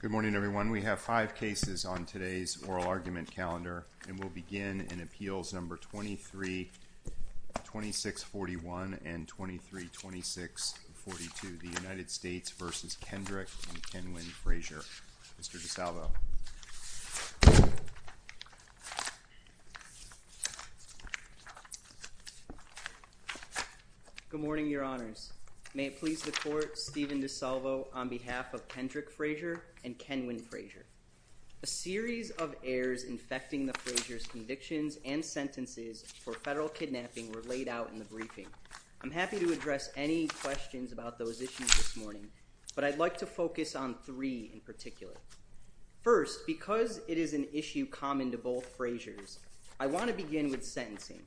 Good morning, everyone. We have five cases on today's oral argument calendar, and we'll begin in Appeals No. 23-2641 and 23-2642, the United States v. Kendrick and Kenwin Frazier. Mr. DiSalvo. Good morning, Your Honors. May it please the Court, Stephen DiSalvo on behalf of Kendrick Frazier and Kenwin Frazier. A series of errors infecting the Fraziers' convictions and sentences for federal kidnapping were laid out in the briefing. I'm happy to address any questions about those issues this morning, but I'd like to focus on three in particular. First, because it is an issue common to both Fraziers, I want to begin with sentencing.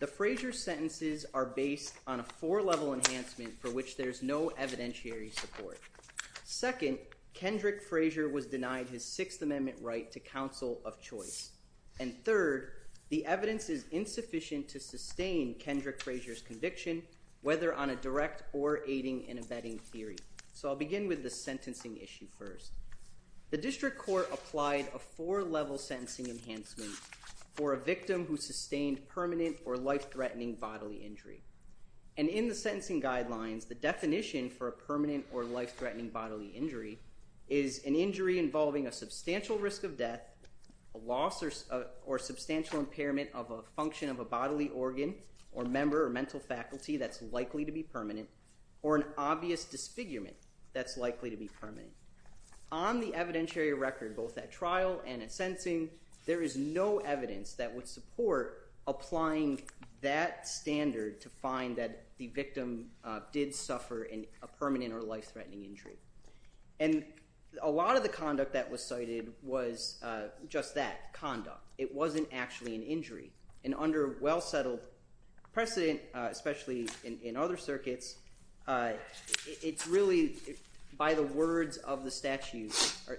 The Frazier sentences are based on a four-level enhancement for which there's no evidentiary support. Second, Kendrick Frazier was denied his Sixth Amendment right to counsel of choice. And third, the evidence is insufficient to sustain Kendrick Frazier's conviction, whether on a direct or aiding and abetting theory. So I'll begin with the sentencing issue first. The District Court applied a four-level sentencing enhancement for a victim who sustained permanent or life-threatening bodily injury. And in the sentencing guidelines, the definition for a permanent or life-threatening bodily injury is an injury involving a substantial risk of death, a loss or substantial impairment of a function of a bodily organ or member or mental faculty that's likely to be permanent, or an obvious disfigurement that's likely to be permanent. On the evidentiary record, both at trial and at sentencing, there is no evidence that would support applying that standard to find that the victim did suffer a permanent or life-threatening injury. And a lot of the conduct that was cited was just that, conduct. It wasn't actually an injury. And under well-settled precedent, especially in other circuits, it's really by the words of the statute,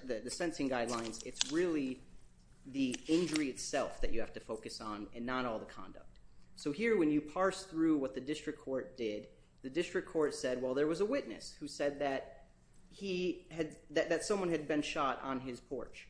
the sentencing guidelines, it's really the injury itself that you have to focus on and not all the conduct. So here, when you parse through what the District Court did, the District Court said, well, there was a witness who said that someone had been shot on his porch.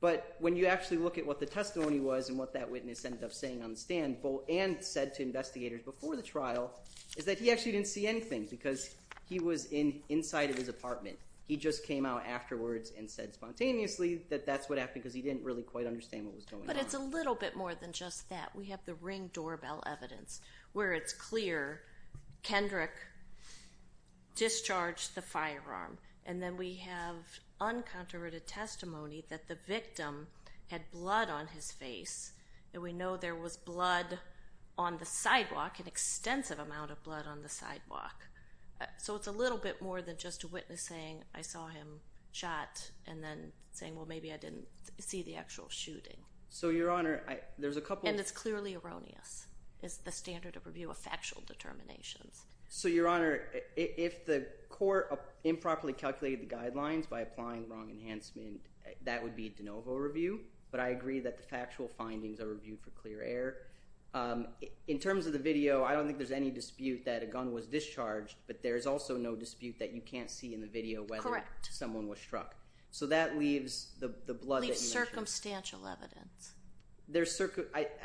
But when you actually look at what the testimony was and what that witness ended up saying on the stand, and said to investigators before the trial, is that he actually didn't see anything because he was inside of his apartment. He just came out afterwards and said spontaneously that that's what happened because he didn't really quite understand what was going on. But it's a little bit more than just that. We have the ring doorbell evidence where it's clear Kendrick discharged the firearm. And then we have uncontroverted testimony that the victim had blood on his face. And we know there was blood on the sidewalk, an extensive amount of blood on the sidewalk. So it's a little bit more than just a witness saying, I saw him shot, and then saying, well, maybe I didn't see the actual shooting. So Your Honor, there's a couple... And it's clearly erroneous. It's the standard of review of factual determinations. So Your Honor, if the court improperly calculated the guidelines by applying wrong enhancement, that would be de novo review. But I agree that the factual findings are reviewed for clear air. In terms of the video, I don't think there's any dispute that a gun was discharged, but there's also no dispute that you can't see in the video whether someone was struck. So that leaves the blood that you mentioned... It leaves circumstantial evidence.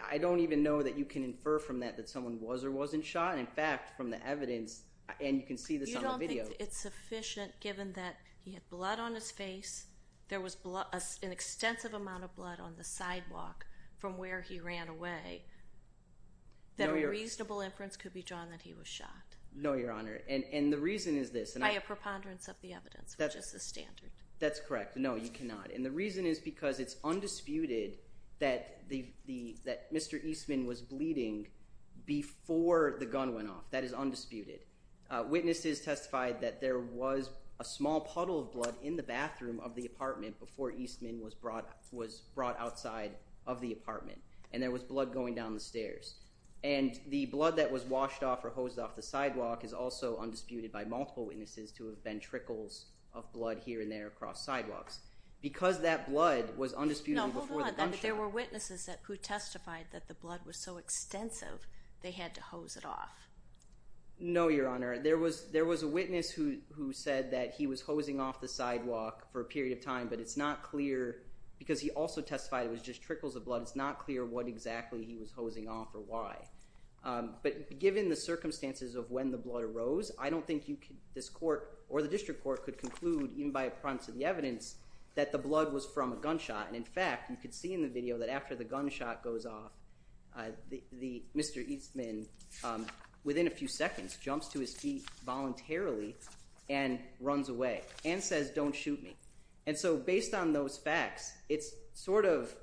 I don't even know that you can infer from that that someone was or wasn't shot. In fact, from the evidence, and you can see this on the video... You don't think it's sufficient given that he had blood on his face, there was an extensive amount of blood on the sidewalk from where he ran away, that a reasonable inference could be drawn that he was shot? No, Your Honor. And the reason is this... By a preponderance of the evidence, which is the standard. That's correct. No, you cannot. And the reason is because it's undisputed that Mr. Eastman was bleeding before the gun went off. That is undisputed. Witnesses testified that there was a small puddle of blood in the bathroom of the apartment before Eastman was brought outside of the apartment, and there was blood going down the stairs. And the blood that was washed off or hosed off the sidewalk is also undisputed by multiple witnesses to have been trickles of blood here and there across sidewalks. Because that blood was undisputed before the gunshot... No, hold on. There were witnesses who testified that the blood was so extensive they had to hose it off. No, Your Honor. There was a witness who said that he was hosing off the sidewalk for a period of time, but it's not clear... Because he also testified it was just trickles of blood, it's not clear what exactly he was hosing off or why. But given the circumstances of when the blood arose, I don't think this court or the district court could conclude, even by a province of the evidence, that the blood was from a gunshot. And in fact, you could see in the video that after the gunshot goes off, Mr. Eastman, within a few seconds, jumps to his feet voluntarily and runs away and says, don't shoot me. And so based on those facts, it's sort of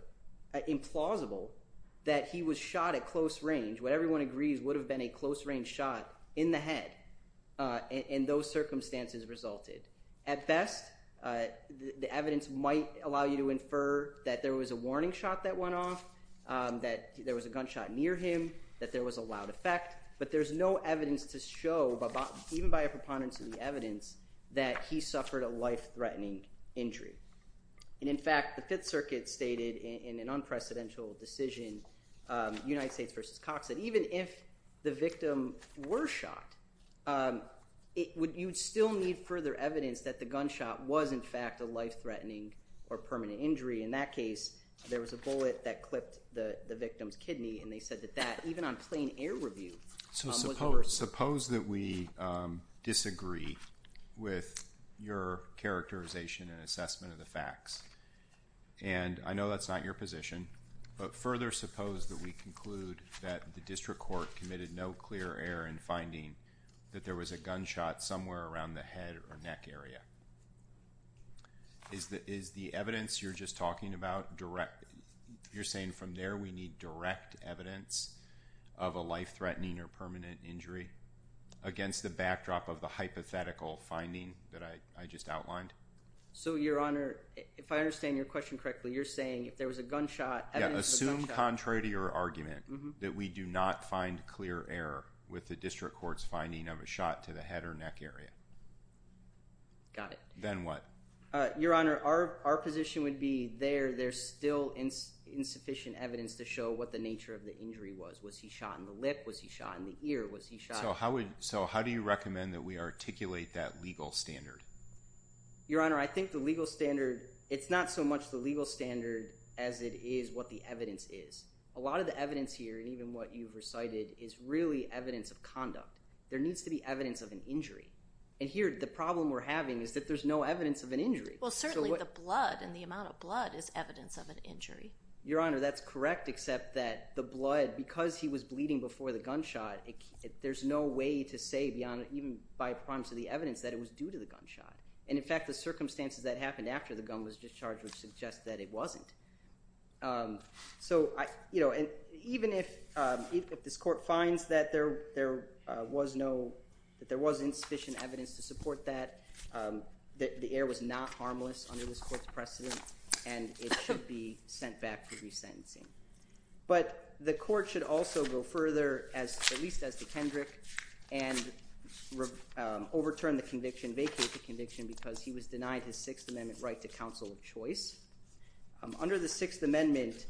implausible that he was shot at close range. What everyone agrees would have been a close range shot in the head, and those circumstances resulted. At best, the evidence might allow you to infer that there was a warning shot that went off, that there was a gunshot near him, that there was a loud effect. But there's no evidence to show, even by a proponent of the evidence, that he suffered a life-threatening injury. And in fact, the Fifth Circuit stated in an unprecedented decision, United States v. Cox, that even if the victim were shot, you'd still need further evidence that the gunshot was, in fact, a life-threatening or permanent injury. In that case, there was a bullet that clipped the victim's kidney, and they said that that, even on plain air review, was a murder. Suppose that we disagree with your characterization and assessment of the facts. And I know that's not your position, but further suppose that we conclude that the district court committed no clear error in finding that there was a gunshot somewhere around the head or neck area. Is the evidence you're just talking about direct? You're saying from there we need direct evidence of a life-threatening or permanent injury against the backdrop of the hypothetical finding that I just outlined? So, Your Honor, if I understand your question correctly, you're saying if there was a gunshot, evidence of a gunshot. Yeah, assume contrary to your argument that we do not find clear error with the district court's finding of a gunshot to the head or neck area. Got it. Then what? Your Honor, our position would be there, there's still insufficient evidence to show what the nature of the injury was. Was he shot in the lip? Was he shot in the ear? Was he shot? So, how do you recommend that we articulate that legal standard? Your Honor, I think the legal standard, it's not so much the legal standard as it is what the evidence is. A lot of the evidence here, and even what you've recited, is really evidence of conduct. There needs to be evidence of an injury. And here, the problem we're having is that there's no evidence of an injury. Well, certainly the blood and the amount of blood is evidence of an injury. Your Honor, that's correct except that the blood, because he was bleeding before the gunshot, there's no way to say beyond even by promise of the evidence that it was due to the gunshot. And in fact, the circumstances that happened after the gun was discharged would suggest that it wasn't. So, even if this Court finds that there was insufficient evidence to support that, the heir was not harmless under this Court's precedent, and it should be sent back for resentencing. But the Court should also go further, at least as to Kendrick, and overturn the conviction, vacate the conviction, because he was denied his Sixth Amendment right to counsel of choice. Under the Sixth Amendment,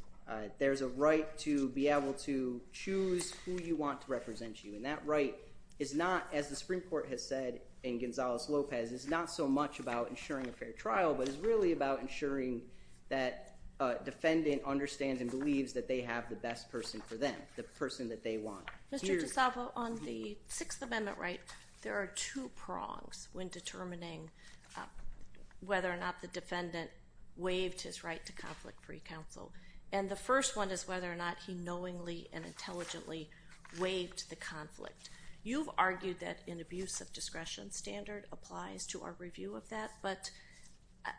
there's a right to be able to choose who you want to represent you. And that right is not, as the Supreme Court has said in Gonzales-Lopez, is not so much about ensuring a fair trial, but is really about ensuring that a defendant understands and believes that they have the best person for them, the person that they want. Mr. DiSalvo, on the Sixth Amendment right, there are two prongs when determining whether or not the defendant waived his right to conflict-free counsel. And the first one is whether or not he knowingly and intelligently waived the conflict. You've argued that an abuse of discretion standard applies to our review of that, but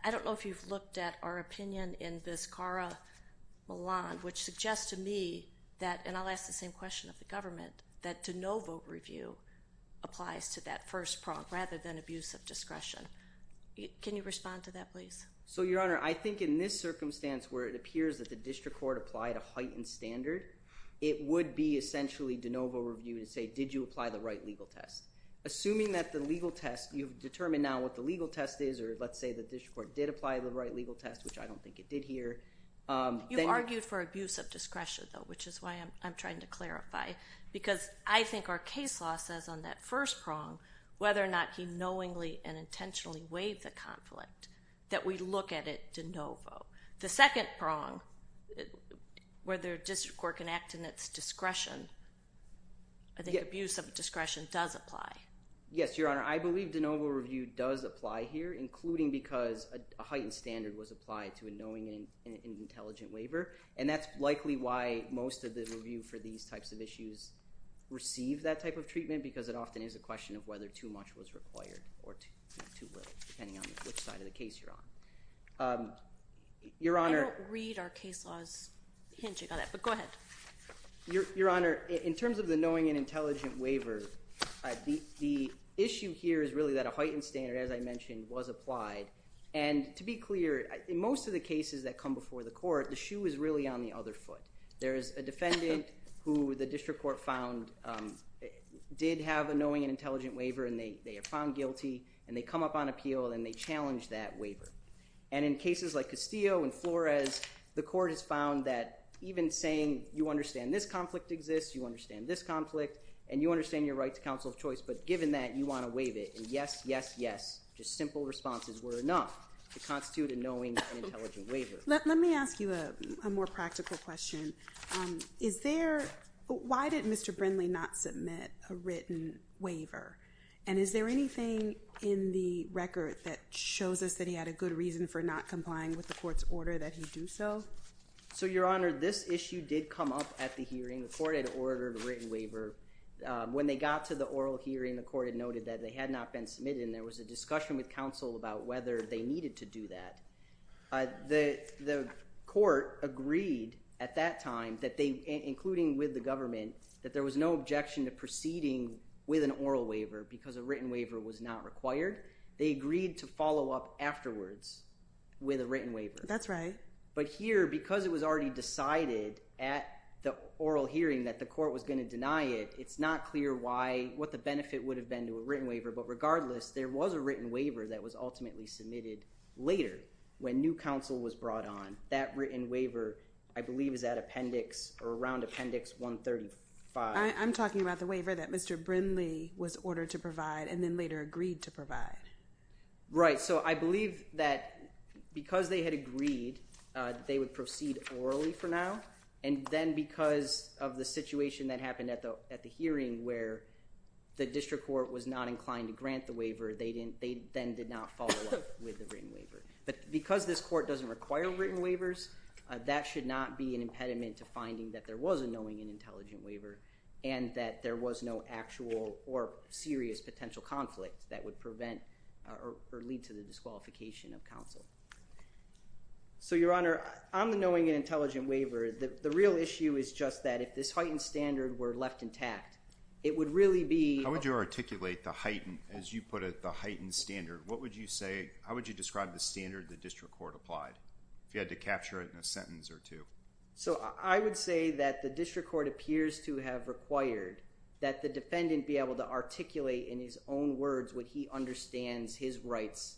I don't know if you've looked at our opinion in Vizcarra-Milan, which suggests to me that, and I'll ask the same question of the government, that to no vote review applies to that first prong rather than abuse of discretion. Can you respond to that, please? So Your Honor, I think in this circumstance where it appears that the district court applied a heightened standard, it would be essentially de novo review to say, did you apply the right legal test? Assuming that the legal test, you've determined now what the legal test is, or let's say the district court did apply the right legal test, which I don't think it did here, then... You argued for abuse of discretion, though, which is why I'm trying to clarify. Because I think our case law says on that first prong, whether or not he knowingly and intentionally waived the conflict, that we look at it de novo. The second prong, whether a district court can act in its discretion, I think abuse of discretion does apply. Yes, Your Honor. I believe de novo review does apply here, including because a heightened standard was applied to a knowing and intelligent waiver. And that's likely why most of the review for these types of issues receive that type of treatment, because it often is a question of whether too much was required or too little, depending on which side of the case you're on. Your Honor... I don't read our case law's hint about that, but go ahead. Your Honor, in terms of the knowing and intelligent waiver, the issue here is really that a heightened standard, as I mentioned, was applied. And to be clear, in most of the cases that come before the court, the shoe is really on the other foot. There is a defendant who the district court found did have a knowing and intelligent waiver, and they are found guilty, and they come up on appeal, and they challenge that waiver. And in cases like Castillo and Flores, the court has found that even saying, you understand this conflict exists, you understand this conflict, and you understand your right to counsel of choice, but given that, you want to waive it. And yes, yes, yes, just simple responses were enough to constitute a knowing and intelligent waiver. Let me ask you a more practical question. Why did Mr. Brindley not submit a written waiver? And is there anything in the record that shows us that he had a good reason for not complying with the court's order that he do so? So Your Honor, this issue did come up at the hearing. The court had ordered a written waiver. When they got to the oral hearing, the court had noted that they had not been submitted, and there was a discussion with counsel about whether they needed to do that. The court agreed at that time that they, including with the government, that there was no objection to proceeding with an oral waiver because a written waiver was not required. They agreed to follow up afterwards with a written waiver. That's right. But here, because it was already decided at the oral hearing that the court was going to deny it, it's not clear what the benefit would have been to a written waiver. But regardless, there was a written waiver that was ultimately submitted later when new counsel was brought on. That written waiver, I believe, is at Appendix or around Appendix 135. I'm talking about the waiver that Mr. Brindley was ordered to provide and then later agreed to provide. Right. So I believe that because they had agreed, they would proceed orally for now. And then because of the situation that happened at the hearing where the district court was not inclined to grant the waiver, they then did not follow up with the written waiver. But because this court doesn't require written waivers, that should not be an impediment to finding that there was a knowing and intelligent waiver and that there was no actual or serious potential conflict that would prevent or lead to the disqualification of counsel. So Your Honor, on the knowing and intelligent waiver, the real issue is just that if this heightened standard were left intact, it would really be... How would you articulate the heightened, as you put it, the heightened standard? What would you say, how would you describe the standard the district court applied? If you had to capture it in a sentence or two. So I would say that the district court appears to have required that the defendant be able to articulate in his own words what he understands, his rights,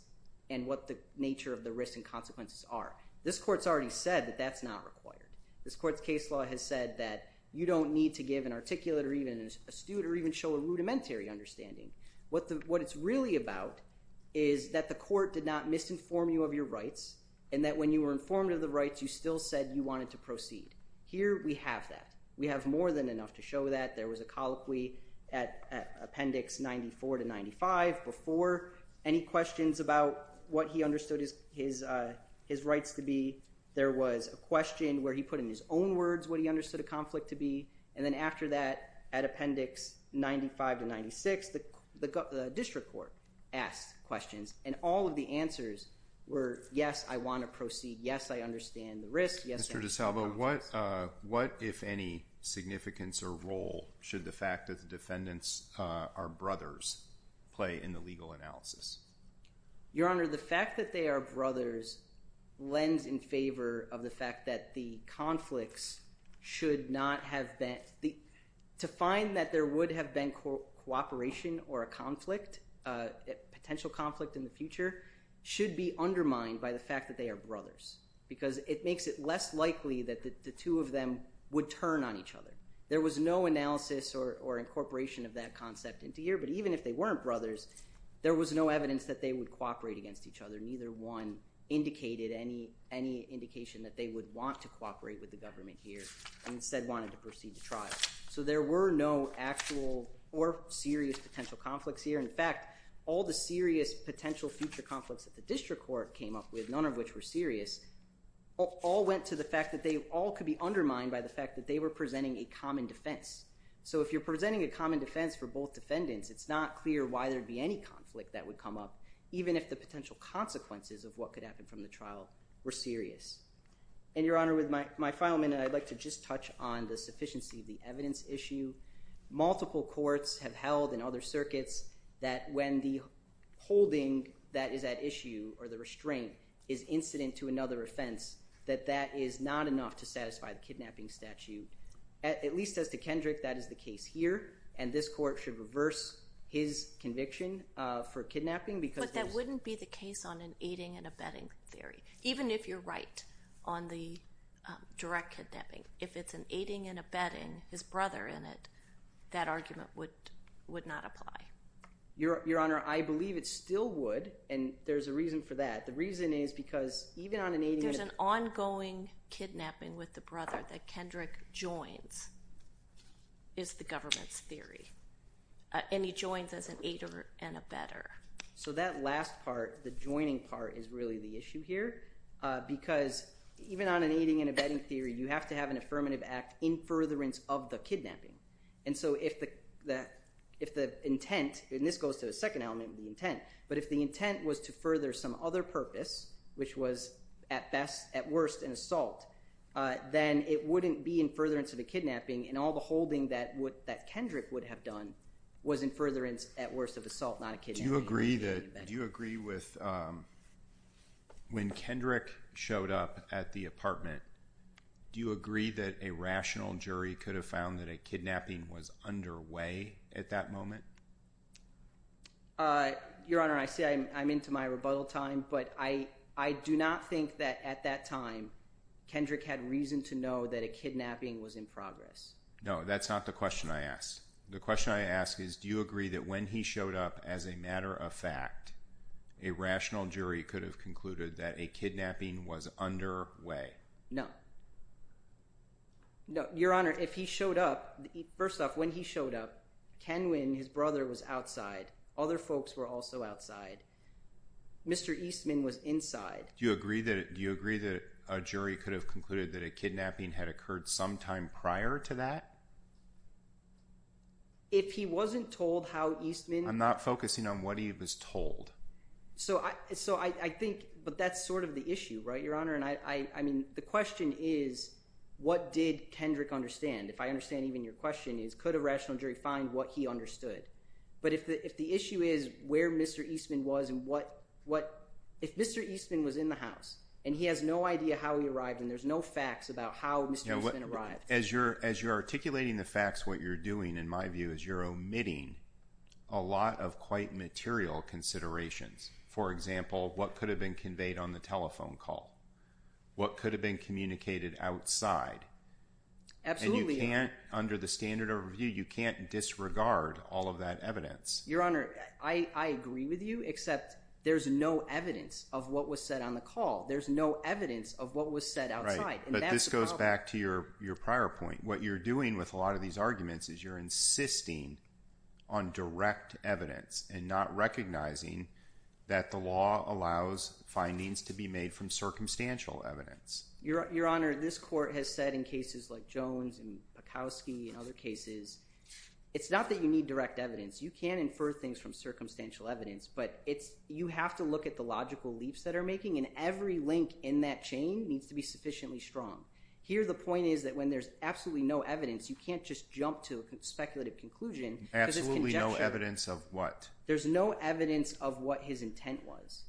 and what the nature of the risks and consequences are. This court's already said that that's not required. This court's case law has said that you don't need to give an articulate or even an astute or even show a rudimentary understanding. What it's really about is that the court did not misinform you of your rights and that when you were informed of the rights, you still said you wanted to proceed. Here we have that. We have more than enough to show that. There was a colloquy at Appendix 94 to 95 before. Any questions about what he understood his rights to be? There was a question where he put in his own words what he understood a conflict to be. And then after that, at Appendix 95 to 96, the district court asked questions. And all of the answers were, yes, I want to proceed, yes, I understand the risks, yes, I understand the consequences. Mr. DeSalvo, what, if any, significance or role should the fact that the defendants are brothers play in the legal analysis? Your Honor, the fact that they are brothers lends in favor of the fact that the conflicts should not have been, to find that there would have been cooperation or a conflict, a potential conflict in the future, should be undermined by the fact that they are brothers because it makes it less likely that the two of them would turn on each other. There was no analysis or incorporation of that concept into here, but even if they weren't brothers, there was no evidence that they would cooperate against each other, neither one indicated any indication that they would want to cooperate with the government here and instead wanted to proceed to trial. So there were no actual or serious potential conflicts here. In fact, all the serious potential future conflicts that the district court came up with, none of which were serious, all went to the fact that they all could be undermined by the fact that they were presenting a common defense. So if you're presenting a common defense for both defendants, it's not clear why there would be any conflict that would come up, even if the potential consequences of what could happen from the trial were serious. And Your Honor, with my final minute, I'd like to just touch on the sufficiency of the evidence issue. Multiple courts have held in other circuits that when the holding that is at issue or the restraint is incident to another offense, that that is not enough to satisfy the kidnapping statute. At least as to Kendrick, that is the case here, and this court should reverse his conviction for kidnapping because there's... But that wouldn't be the case on an aiding and abetting theory, even if you're right on the direct kidnapping. If it's an aiding and abetting, his brother in it, that argument would not apply. Your Honor, I believe it still would, and there's a reason for that. The reason is because even on an aiding... There's an ongoing kidnapping with the brother that Kendrick joins, is the government's theory. And he joins as an aider and abetter. So that last part, the joining part, is really the issue here because even on an aiding and abetting theory, you have to have an affirmative act in furtherance of the kidnapping. And so if the intent, and this goes to the second element, the intent, but if the intent was to further some other purpose, which was at best, at worst, an assault, then it wouldn't be in furtherance of the kidnapping, and all the holding that Kendrick would have done was in furtherance, at worst, of assault, not a kidnapping. Do you agree with... When Kendrick showed up at the apartment, do you agree that a rational jury could have found that a kidnapping was underway at that moment? Your Honor, I say I'm into my rebuttal time, but I do not think that at that time, Kendrick had reason to know that a kidnapping was in progress. No, that's not the question I asked. The question I asked is, do you agree that when he showed up as a matter of fact, a rational jury could have concluded that a kidnapping was underway? No. No. Your Honor, if he showed up, first off, when he showed up, Kenwin, his brother, was outside. Other folks were also outside. Mr. Eastman was inside. Do you agree that a jury could have concluded that a kidnapping had occurred sometime prior to that? If he wasn't told how Eastman... I'm not focusing on what he was told. So I think, but that's sort of the issue, right, Your Honor? And I mean, the question is, what did Kendrick understand? If I understand even your question is, could a rational jury find what he understood? But if the issue is where Mr. Eastman was and what... If Mr. Eastman was in the house, and he has no idea how he arrived, and there's no facts about how Mr. Eastman arrived... As you're articulating the facts, what you're doing, in my view, is you're omitting a lot of quite material considerations. For example, what could have been conveyed on the telephone call? What could have been communicated outside? Absolutely, Your Honor. And you can't, under the standard of review, you can't disregard all of that evidence. Your Honor, I agree with you, except there's no evidence of what was said on the call. There's no evidence of what was said outside. Right, but this goes back to your prior point. What you're doing with a lot of these arguments is you're insisting on direct evidence and not recognizing that the law allows findings to be made from circumstantial evidence. Your Honor, this court has said in cases like Jones and Pakowski and other cases, it's not that you need direct evidence. You can infer things from circumstantial evidence, but you have to look at the logical leaps that are making, and every link in that chain needs to be sufficiently strong. Here the point is that when there's absolutely no evidence, you can't just jump to a speculative conclusion because there's conjecture... Absolutely no evidence of what? There's no evidence of what his intent was.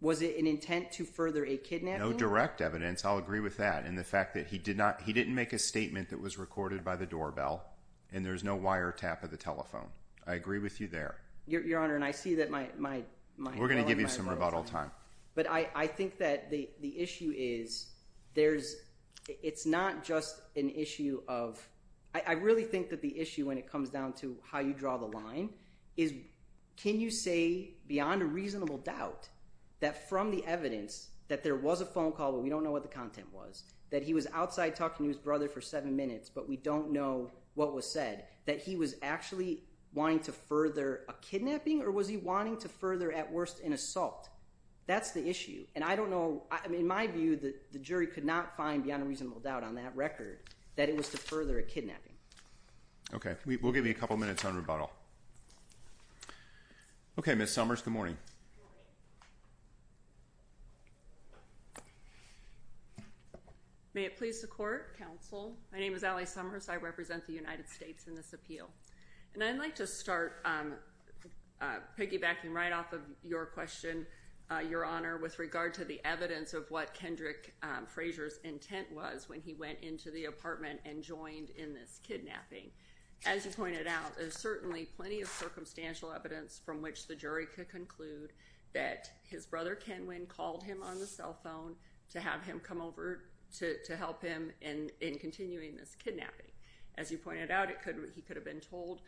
Was it an intent to further a kidnapping? No direct evidence. I'll agree with that. And the fact that he did not, he didn't make a statement that was recorded by the doorbell, and there's no wiretap of the telephone. I agree with you there. Your Honor, and I see that my... We're going to give you some rebuttal time. But I think that the issue is, there's, it's not just an issue of, I really think that the issue when it comes down to how you draw the line is, can you say beyond a reasonable doubt that from the evidence that there was a phone call, but we don't know what the content was, that he was outside talking to his brother for seven minutes, but we don't know what was said, that he was actually wanting to further a kidnapping, or was he wanting to further at worst an assault? That's the issue. And I don't know, in my view, the jury could not find beyond a reasonable doubt on that record that it was to further a kidnapping. Okay. We'll give you a couple minutes on rebuttal. Okay, Ms. Summers, good morning. May it please the Court, Counsel. My name is Allie Summers. I represent the United States in this appeal. And I'd like to start piggybacking right off of your question, Your Honor, with regard to the evidence of what Kendrick Frazier's intent was when he went into the apartment and joined in this kidnapping. As you pointed out, there's certainly plenty of circumstantial evidence from which the jury could conclude that his brother Kenwin called him on the cell phone to have him come over to help him in continuing this kidnapping. As you pointed out, he could have been told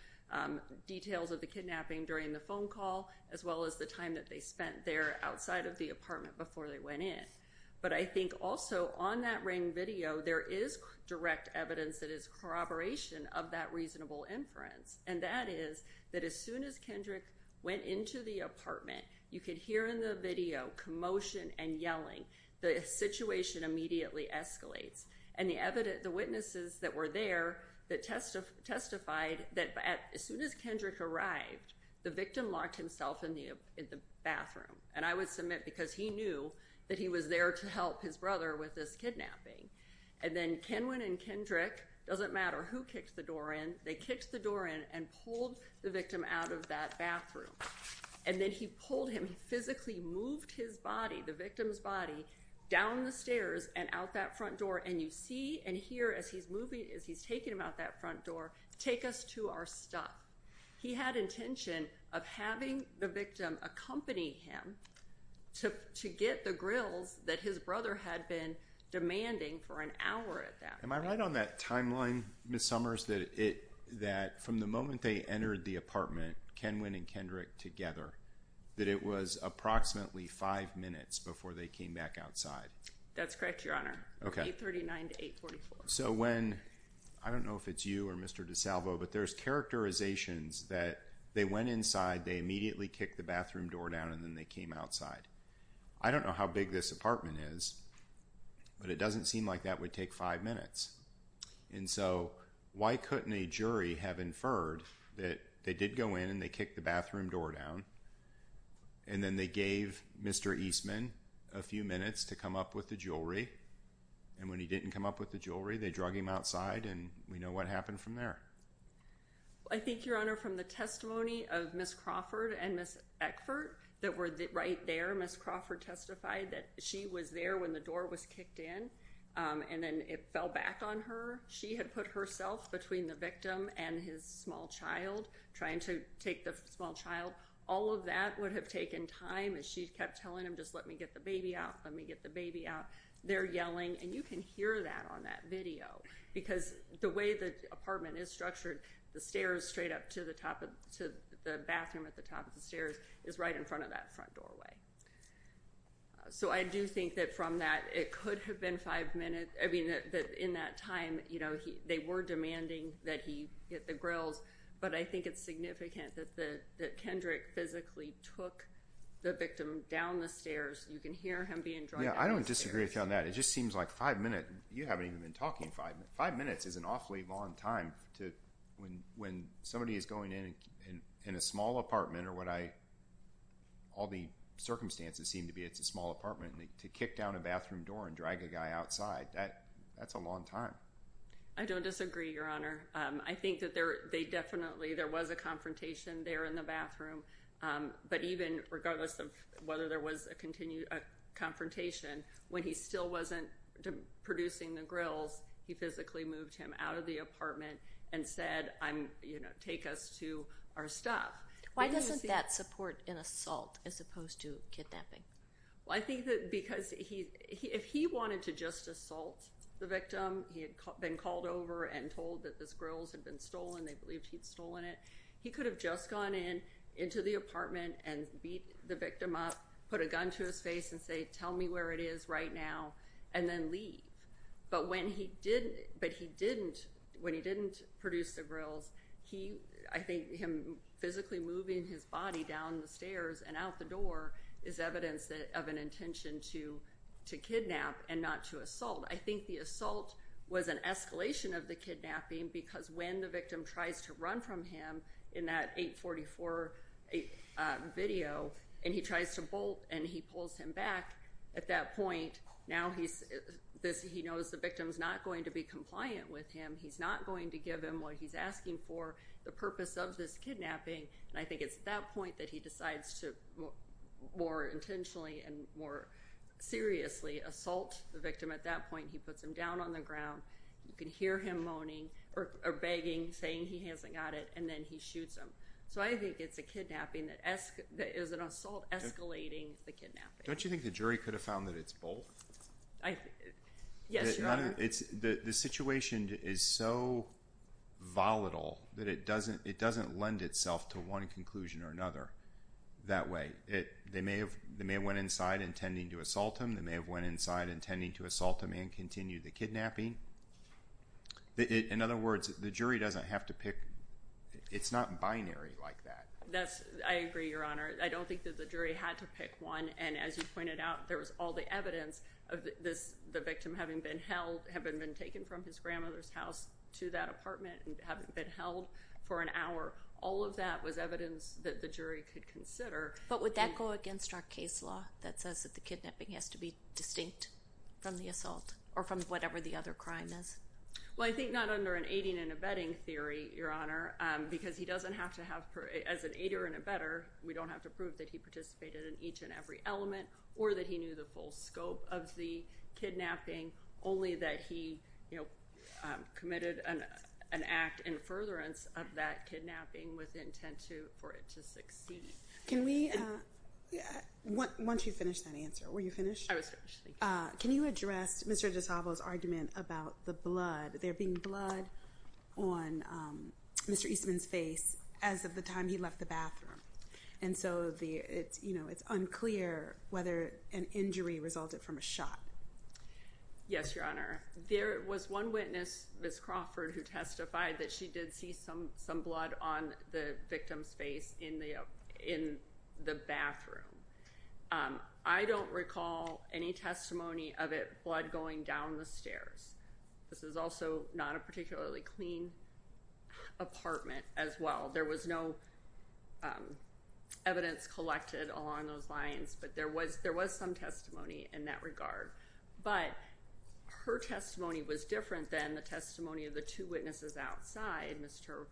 details of the kidnapping during the phone call, as well as the time that they spent there outside of the apartment before they went in. But I think also on that ring video, there is direct evidence that is corroboration of that reasonable inference, and that is that as soon as Kendrick went into the apartment, you could hear in the video commotion and yelling. The situation immediately escalates. And the witnesses that were there that testified that as soon as Kendrick arrived, the victim locked himself in the bathroom. And I would submit because he knew that he was there to help his brother with this kidnapping. And then Kenwin and Kendrick, doesn't matter who kicked the door in, they kicked the door in and pulled the victim out of that bathroom. And then he pulled him, physically moved his body, the victim's body, down the stairs and out that front door. And you see and hear as he's moving, as he's taking him out that front door, take us to our stuff. He had intention of having the victim accompany him to get the grills that his brother had been demanding for an hour at that point. Am I right on that timeline, Ms. Summers, that from the moment they entered the apartment, Kenwin and Kendrick together, that it was approximately five minutes before they came back outside? That's correct, Your Honor. Okay. 839 to 844. So when, I don't know if it's you or Mr. DeSalvo, but there's characterizations that they went inside, they immediately kicked the bathroom door down, and then they came outside. I don't know how big this apartment is, but it doesn't seem like that would take five minutes. And so, why couldn't a jury have inferred that they did go in and they kicked the bathroom door down, and then they gave Mr. Eastman a few minutes to come up with the jewelry. And when he didn't come up with the jewelry, they drug him outside, and we know what happened from there. I think, Your Honor, from the testimony of Ms. Crawford and Ms. Eckford that were right there, Ms. Crawford testified that she was there when the door was kicked in, and then it fell back on her. She had put herself between the victim and his small child, trying to take the small child. All of that would have taken time, as she kept telling him, just let me get the baby out, let me get the baby out. They're yelling, and you can hear that on that video, because the way the apartment is structured, the stairs straight up to the bathroom at the top of the stairs is right in front of that front doorway. So I do think that from that, it could have been five minutes. I mean, in that time, you know, they were demanding that he get the grills, but I think it's significant that Kendrick physically took the victim down the stairs. You can hear him being dragged down the stairs. Yeah. I don't disagree with you on that. It just seems like five minutes. You haven't even been talking five minutes. Five minutes is an awfully long time to, when somebody is going in, in a small apartment or what I, all the circumstances seem to be, it's a small apartment, to kick down a bathroom door and drag a guy outside, that's a long time. I don't disagree, Your Honor. I think that they definitely, there was a confrontation there in the bathroom, but even regardless of whether there was a confrontation, when he still wasn't producing the grills, he physically moved him out of the apartment and said, I'm, you know, take us to our stuff. Why doesn't that support an assault as opposed to kidnapping? Well, I think that because he, if he wanted to just assault the victim, he had been called over and told that this grills had been stolen, they believed he'd stolen it. He could have just gone in, into the apartment and beat the victim up, put a gun to his face and say, tell me where it is right now, and then leave. But when he didn't, when he didn't produce the grills, he, I think him physically moving his body down the stairs and out the door is evidence of an intention to kidnap and not to assault. I think the assault was an escalation of the kidnapping because when the victim tries to run from him in that 844 video and he tries to bolt and he pulls him back, at that point, now he's, he knows the victim's not going to be compliant with him, he's not going to give him what he's asking for, the purpose of this kidnapping, and I think it's at that point that he decides to more intentionally and more seriously assault the victim. At that point, he puts him down on the ground, you can hear him moaning or begging, saying he hasn't got it, and then he shoots him. So I think it's a kidnapping that, that is an assault escalating the kidnapping. Don't you think the jury could have found that it's both? I, yes, Your Honor. The situation is so volatile that it doesn't, it doesn't lend itself to one conclusion or another that way. They may have, they may have went inside intending to assault him, they may have went inside intending to assault him and continue the kidnapping. In other words, the jury doesn't have to pick, it's not binary like that. That's, I agree, Your Honor. I don't think that the jury had to pick one, and as you pointed out, there was all the evidence of this, the victim having been held, having been taken from his grandmother's house to that apartment and having been held for an hour. All of that was evidence that the jury could consider. But would that go against our case law that says that the kidnapping has to be distinct from the assault or from whatever the other crime is? Well, I think not under an aiding and abetting theory, Your Honor, because he doesn't have to have, as an aider and abetter, we don't have to prove that he participated in each and every element or that he knew the full scope of the kidnapping, only that he, you know, committed an act in furtherance of that kidnapping with intent to, for it to succeed. Can we, once you finish that answer, were you finished? I was finished. Thank you. Can you address Mr. DiSalvo's argument about the blood, there being blood on Mr. Eastman's face as of the time he left the bathroom? And so, you know, it's unclear whether an injury resulted from a shot. Yes, Your Honor. There was one witness, Ms. Crawford, who testified that she did see some blood on the victim's face in the bathroom. I don't recall any testimony of it, blood going down the stairs. This is also not a particularly clean apartment as well. There was no evidence collected along those lines, but there was some testimony in that regard. But her testimony was different than the testimony of the two witnesses outside, Mr.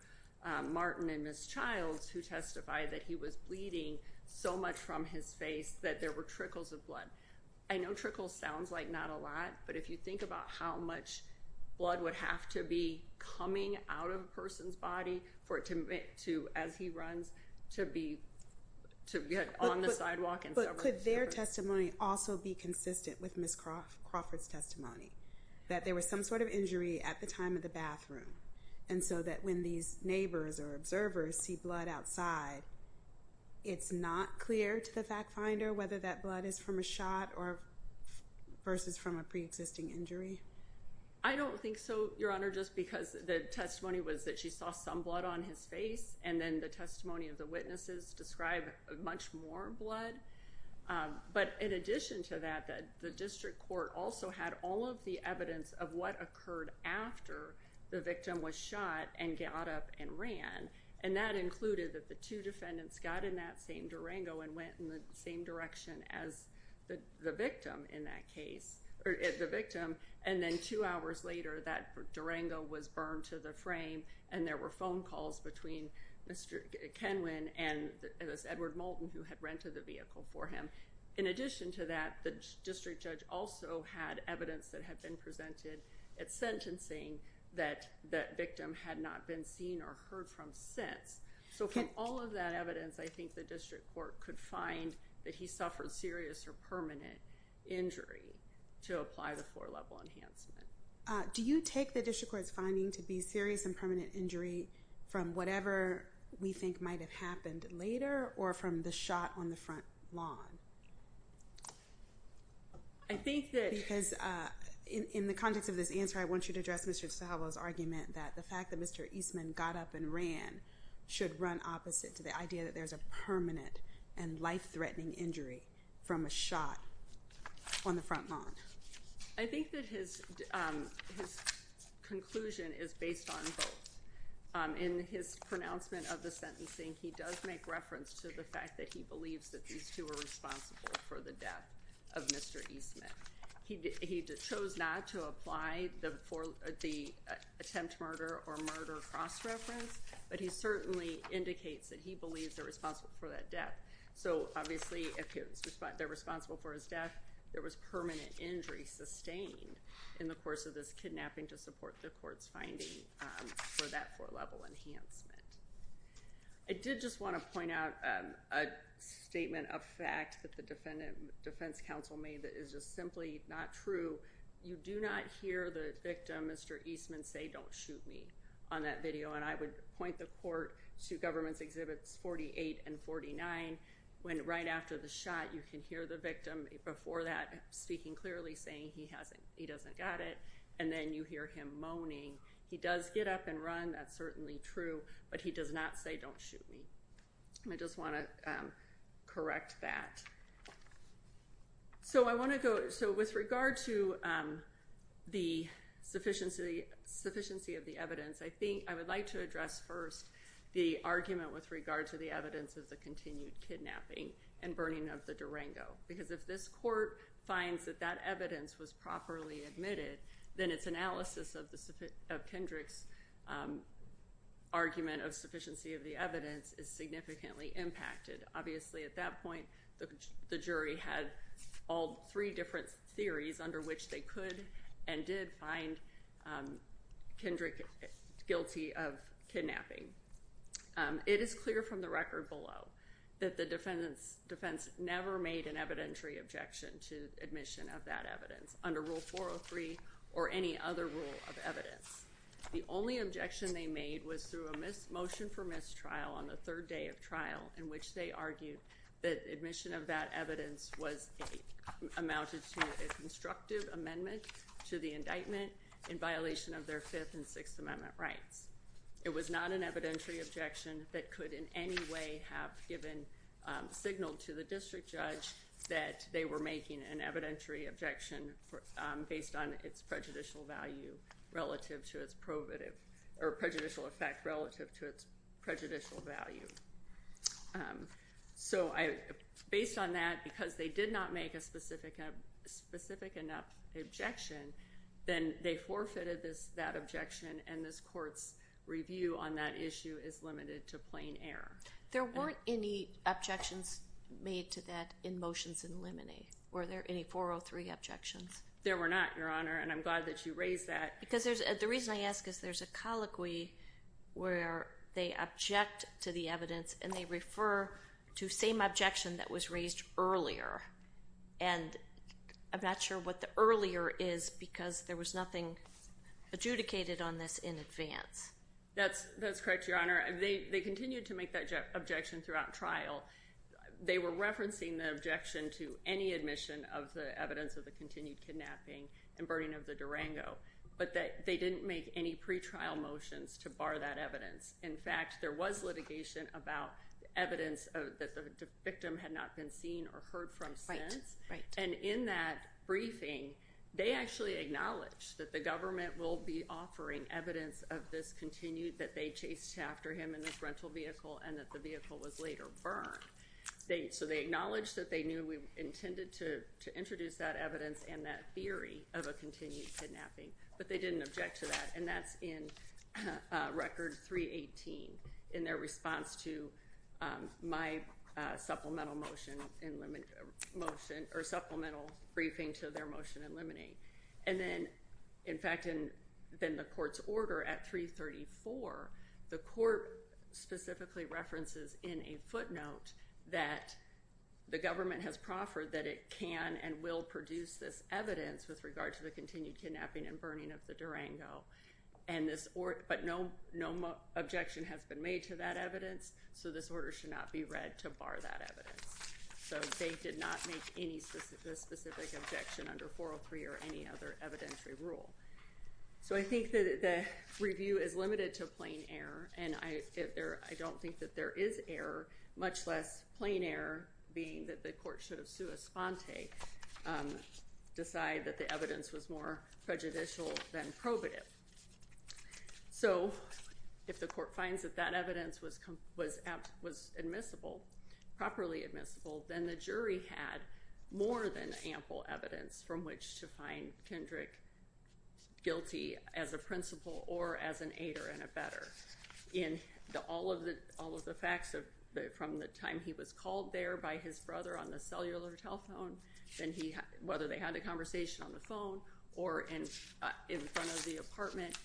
Martin and Ms. Childs, who testified that he was bleeding so much from his face that there were trickles of blood. I know trickles sounds like not a lot, but if you think about how much blood would have to be coming out of a person's body for it to, as he runs, to be on the sidewalk and severed. But could their testimony also be consistent with Ms. Crawford's testimony, that there was some sort of injury at the time of the bathroom, and so that when these neighbors or observers see blood outside, it's not clear to the fact finder whether that blood is from a shot or versus from a pre-existing injury? I don't think so, Your Honor, just because the testimony was that she saw some blood on his face, and then the testimony of the witnesses described much more blood. But in addition to that, the district court also had all of the evidence of what occurred after the victim was shot and got up and ran, and that included that the two defendants got in that same Durango and went in the same direction as the victim in that case, or the victim, and then two hours later, that Durango was burned to the frame, and there were phone calls between Mr. Kenwin and Ms. Edward Moulton, who had rented the vehicle for him. In addition to that, the district judge also had evidence that had been presented at sentencing that that victim had not been seen or heard from since. So from all of that evidence, I think the district court could find that he suffered serious or permanent injury to apply the floor-level enhancement. Do you take the district court's finding to be serious and permanent injury from whatever we think might have happened later or from the shot on the front lawn? I think that... Because in the context of this answer, I want you to address Mr. Estolano's argument that the fact that Mr. Eastman got up and ran should run opposite to the idea that there's a permanent and life-threatening injury from a shot on the front lawn. I think that his conclusion is based on both. In his pronouncement of the sentencing, he does make reference to the fact that he believes that these two were responsible for the death of Mr. Eastman. He chose not to apply the attempt murder or murder cross-reference, but he certainly indicates that he believes they're responsible for that death. So obviously, if they're responsible for his death, there was permanent injury sustained in the course of this kidnapping to support the court's finding for that floor-level enhancement. I did just want to point out a statement of fact that the defense counsel made that is just simply not true. You do not hear the victim, Mr. Eastman, say, don't shoot me on that video. And I would point the court to Governments Exhibits 48 and 49, when right after the shot, you can hear the victim before that speaking clearly, saying he doesn't got it. And then you hear him moaning. He does get up and run. That's certainly true. But he does not say, don't shoot me. I just want to correct that. So with regard to the sufficiency of the evidence, I would like to address first the argument with regard to the evidence of the continued kidnapping and burning of the Durango. Because if this court finds that that evidence was properly admitted, then its analysis of Kendrick's argument of sufficiency of the evidence is significantly impacted. Obviously, at that point, the jury had all three different theories under which they could and did find Kendrick guilty of kidnapping. It is clear from the record below that the defense never made an evidentiary objection to admission of that evidence under Rule 403 or any other rule of evidence. The only objection they made was through a motion for mistrial on the third day of trial in which they argued that admission of that evidence amounted to a constructive amendment to the indictment in violation of their Fifth and Sixth Amendment rights. It was not an evidentiary objection that could in any way have given signal to the district judge that they were making an evidentiary objection based on its prejudicial value relative to its prohibitive or prejudicial effect relative to its prejudicial value. So based on that, because they did not make a specific enough objection, then they forfeited that objection and this court's review on that issue is limited to plain error. There weren't any objections made to that in motions in limine. Were there any 403 objections? There were not, Your Honor, and I'm glad that you raised that. Because there's, the reason I ask is there's a colloquy where they object to the evidence and they refer to same objection that was raised earlier and I'm not sure what the earlier is because there was nothing adjudicated on this in advance. That's correct, Your Honor. They continued to make that objection throughout trial. They were referencing the objection to any admission of the evidence of the continued kidnapping and burning of the Durango, but they didn't make any pretrial motions to bar that evidence. In fact, there was litigation about evidence that the victim had not been seen or heard from since. Right, right. And in that briefing, they actually acknowledged that the government will be offering evidence of this continued, that they chased after him in this rental vehicle and that the vehicle was later burned. So they acknowledged that they knew we intended to introduce that evidence and that theory of a continued kidnapping, but they didn't object to that. And that's in Record 318 in their response to my supplemental motion, or supplemental briefing to their motion in limine. And then, in fact, in the court's order at 334, the court specifically references in a footnote that the government has proffered that it can and will produce this evidence with regard to the continued kidnapping and burning of the Durango. But no objection has been made to that evidence, so this order should not be read to bar that evidence. So they did not make any specific objection under 403 or any other evidentiary rule. So I think that the review is limited to plain error, and I don't think that there is error, much less plain error being that the court should have sua sponte, decide that the evidence was more prejudicial than probative. So, if the court finds that that evidence was admissible, properly admissible, then the jury had more than ample evidence from which to find Kendrick guilty as a principal or as an aider and abetter in all of the facts from the time he was called there by his brother on the cellular telephone, whether they had a conversation on the phone or in front of the apartment,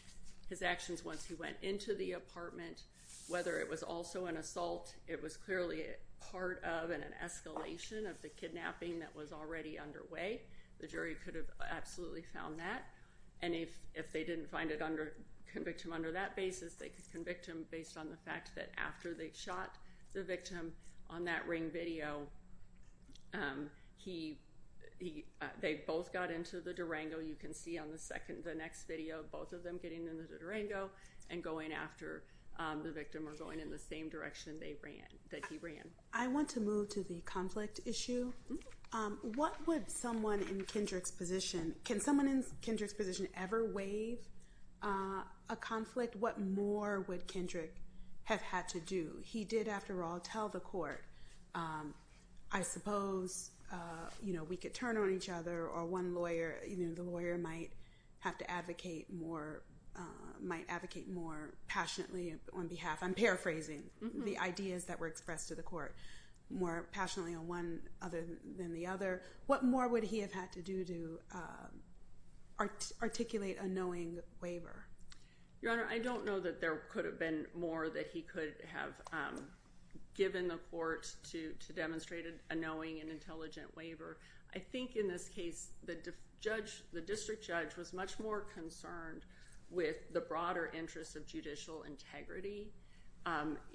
his actions once he went into the apartment, whether it was also an assault, it was clearly part of and an escalation of the kidnapping that was already underway, the jury could have absolutely found that. And if they didn't find it under, convict him under that basis, they could convict him based on the fact that after they shot the victim on that ring video, he, they both got into the Durango, you can see on the next video, both of them getting into the Durango and going after the victim or going in the same direction that he ran. I want to move to the conflict issue. What would someone in Kendrick's position, can someone in Kendrick's position ever waive a conflict? What more would Kendrick have had to do? He did, after all, tell the court, I suppose, you know, we could turn on each other or one lawyer, you know, the lawyer might have to advocate more, might advocate more passionately on behalf, I'm paraphrasing, the ideas that were expressed to the court, more passionately on one other than the other. What more would he have had to do to articulate a knowing waiver? Your Honor, I don't know that there could have been more that he could have given the court to demonstrate a knowing and intelligent waiver. I think in this case, the judge, the district judge was much more concerned with the broader interest of judicial integrity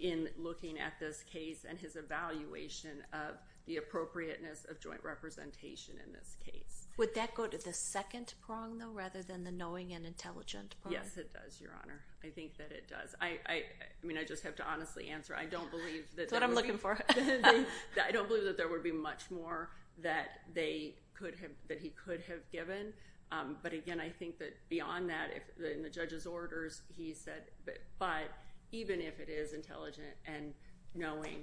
in looking at this case and his evaluation of the appropriateness of joint representation in this case. Would that go to the second prong, though, rather than the knowing and intelligent prong? Yes, it does, Your Honor. I think that it does. I, I, I mean, I just have to honestly answer, I don't believe that... That's what I'm looking for. I don't believe that there would be much more that they could have... that he could have given. But again, I think that beyond that, in the judge's orders, he said, but even if it is intelligent and knowing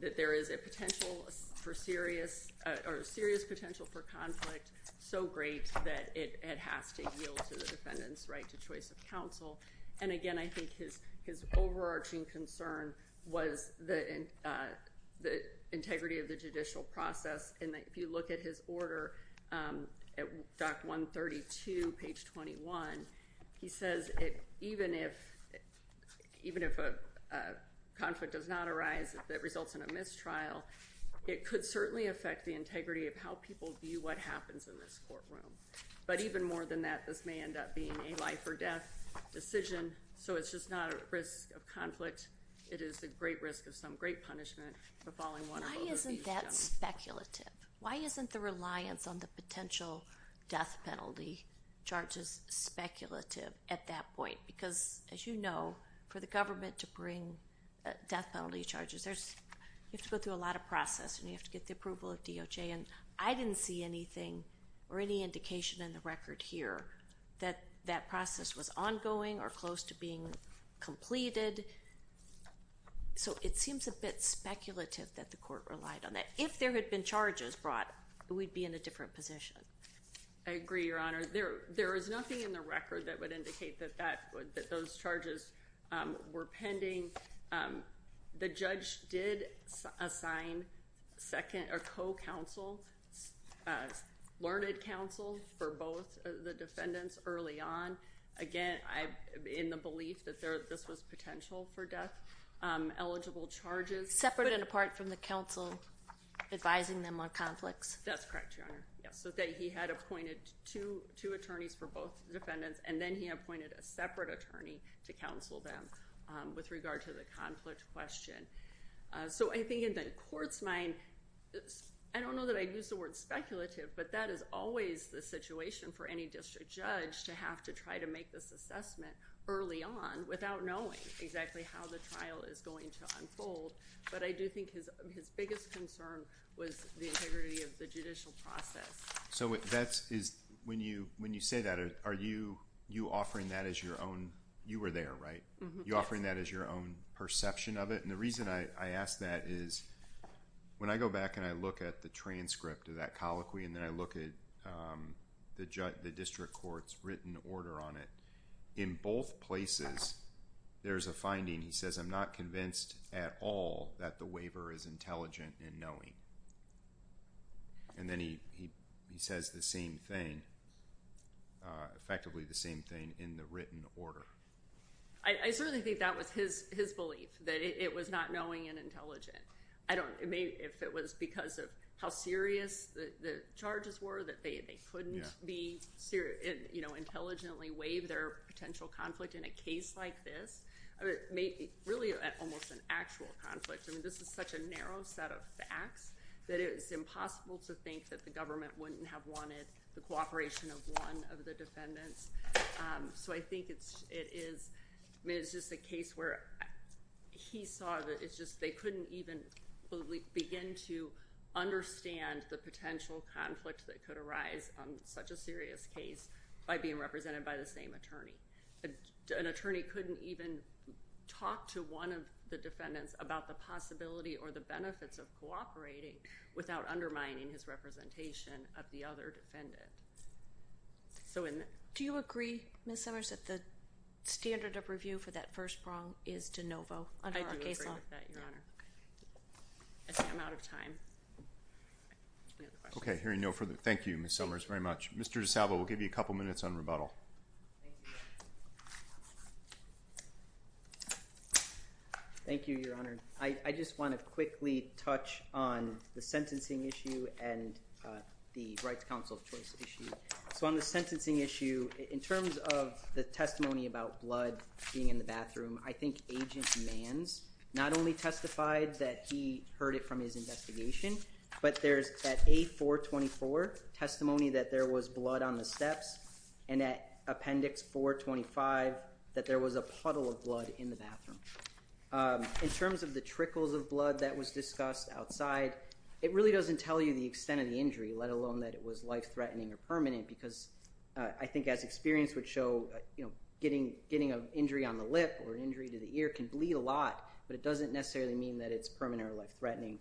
that there is a potential for serious, or serious potential for conflict so great that it, it has to yield to the defendant's right to choice of counsel. And again, I think his, his overarching concern was the, the integrity of the judicial process and that if you look at his order, at Doctrine 132, page 21, he says it, even if, even if a conflict does not arise that results in a mistrial, it could certainly affect the integrity of how people view what happens in this courtroom. But even more than that, this may end up being a life or death decision. So it's just not a risk of conflict. It is a great risk of some great punishment for falling one or both of these... Why isn't that speculative? Why isn't the reliance on the potential death penalty charges speculative at that point? Because as you know, for the government to bring death penalty charges, there's, you have to go through a lot of process, and you have to get the approval of DOJ, and I didn't see anything or any indication in the record here that that process was ongoing or close to being completed. So it seems a bit speculative that the court relied on that. If there had been charges brought, we'd be in a different position. I agree, Your Honor. There is nothing in the record that would indicate that that, that those charges were pending. The judge did assign second, or co-counsel, learned counsel for both the defendants early on. Again, in the belief that this was potential for death, eligible charges... Separate and apart from the counsel advising them on conflicts? That's correct, Your Honor. Yes. So that he had appointed two attorneys for both defendants, and then he appointed a separate attorney to counsel them with regard to the conflict question. So I think in the court's mind, I don't know that I'd use the word speculative, but that is always the situation for any district judge to have to try to make this assessment early on without knowing exactly how the trial is going to unfold, but I do think his biggest concern was the integrity of the judicial process. So that's... when you say that, are you offering that as your own... you were there, right? You're offering that as your own perception of it, and the reason I ask that is, when I go back and I look at the transcript of that colloquy, and then I look at the district court's written order on it, in both places, there's a finding, he says, I'm not convinced at all that the waiver is intelligent in knowing. And then he says the same thing, effectively the same thing, in the written order. I certainly think that was his belief, that it was not knowing and intelligent. I don't... if it was because of how serious the charges were, that they couldn't intelligently waive their potential conflict in a case like this, really almost an actual conflict, I think, that it's impossible to think that the government wouldn't have wanted the cooperation of one of the defendants. So I think it is... I mean, it's just a case where he saw that it's just they couldn't even begin to understand the potential conflict that could arise on such a serious case by being represented by the same attorney. An attorney couldn't even talk to one of the defendants about the possibility or the benefits of cooperating without undermining his representation of the other defendant. So in... Do you agree, Ms. Summers, that the standard of review for that first prong is de novo under our case law? I do agree with that, Your Honor. Okay. I think I'm out of time. Do you have a question? Okay. Hearing no further... thank you, Ms. Summers, very much. Mr. DiSalvo, we'll give you a couple minutes on rebuttal. Thank you, Your Honor. I just want to quickly touch on the sentencing issue and the Rights Council of Choice issue. So on the sentencing issue, in terms of the testimony about blood being in the bathroom, I think Agent Manns not only testified that he heard it from his investigation, but there's at A-424 testimony that there was blood on the steps and at Appendix 425 that there was a puddle of blood in the bathroom. In terms of the trickles of blood that was discussed outside, it really doesn't tell you the extent of the injury, let alone that it was life-threatening or permanent, because I think as experience would show, getting an injury on the lip or an injury to the ear can bleed a lot, but it doesn't necessarily mean that it's permanent or life-threatening.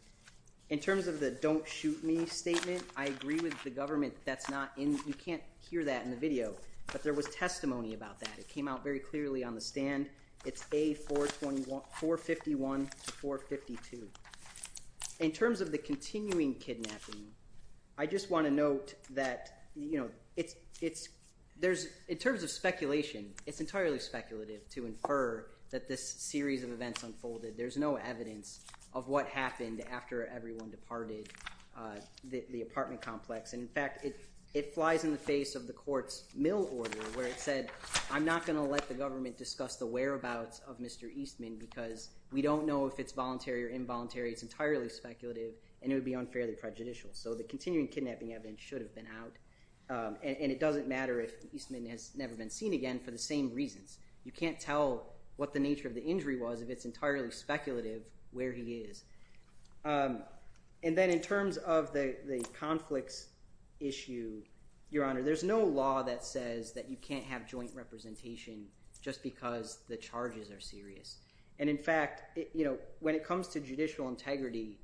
In terms of the don't-shoot-me statement, I agree with the government that that's not in... you can't hear that in the video, but there was testimony about that. It came out very clearly on the stand. It's A-451-452. In terms of the continuing kidnapping, I just want to note that, you know, it's... there's... in terms of speculation, it's entirely speculative to infer that this series of events unfolded. There's no evidence of what happened after everyone departed the apartment complex, and in fact, it flies in the face of the court's mill order where it said, I'm not going to let the government discuss the whereabouts of Mr. Eastman, because we don't know if it's voluntary or involuntary. It's entirely speculative, and it would be unfairly prejudicial. So the continuing kidnapping evidence should have been out, and it doesn't matter if Eastman has never been seen again for the same reasons. You can't tell what the nature of the injury was if it's entirely speculative where he is. And then in terms of the conflicts issue, Your Honor, there's no law that says that you can't have joint representation just because the charges are serious. And in fact, you know, when it comes to judicial integrity,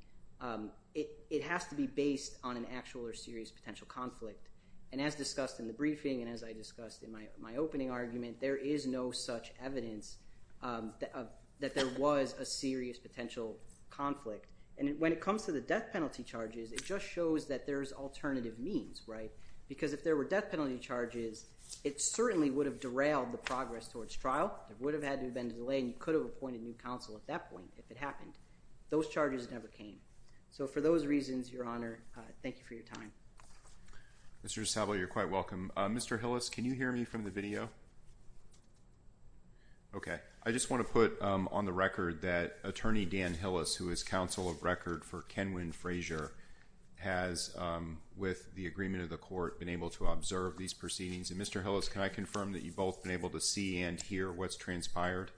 it has to be based on an actual or serious potential conflict. And as discussed in the briefing and as I discussed in my opening argument, there is no such evidence that there was a serious potential conflict. And when it comes to the death penalty charges, it just shows that there's alternative means, right? Because if there were death penalty charges, it certainly would have derailed the progress towards trial. There would have had to have been a delay, and you could have appointed a new counsel at that point if it happened. Those charges never came. So for those reasons, Your Honor, thank you for your time. Mr. Estable, you're quite welcome. Mr. Hillis, can you hear me from the video? Okay. I just want to put on the record that Attorney Dan Hillis, who is counsel of record for Kenwin Frazier, has, with the agreement of the court, been able to observe these proceedings. And Mr. Hillis, can I confirm that you've both been able to see and hear what's transpired?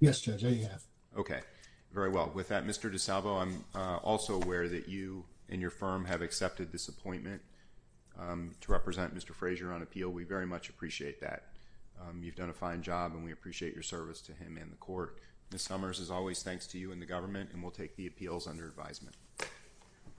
Yes, Judge. I have. Okay. Very well. With that, Mr. DiSalvo, I'm also aware that you and your firm have accepted this appointment to represent Mr. Frazier on appeal. We very much appreciate that. You've done a fine job, and we appreciate your service to him and the court. Ms. Summers, as always, thanks to you and the government, and we'll take the appeals under advisement.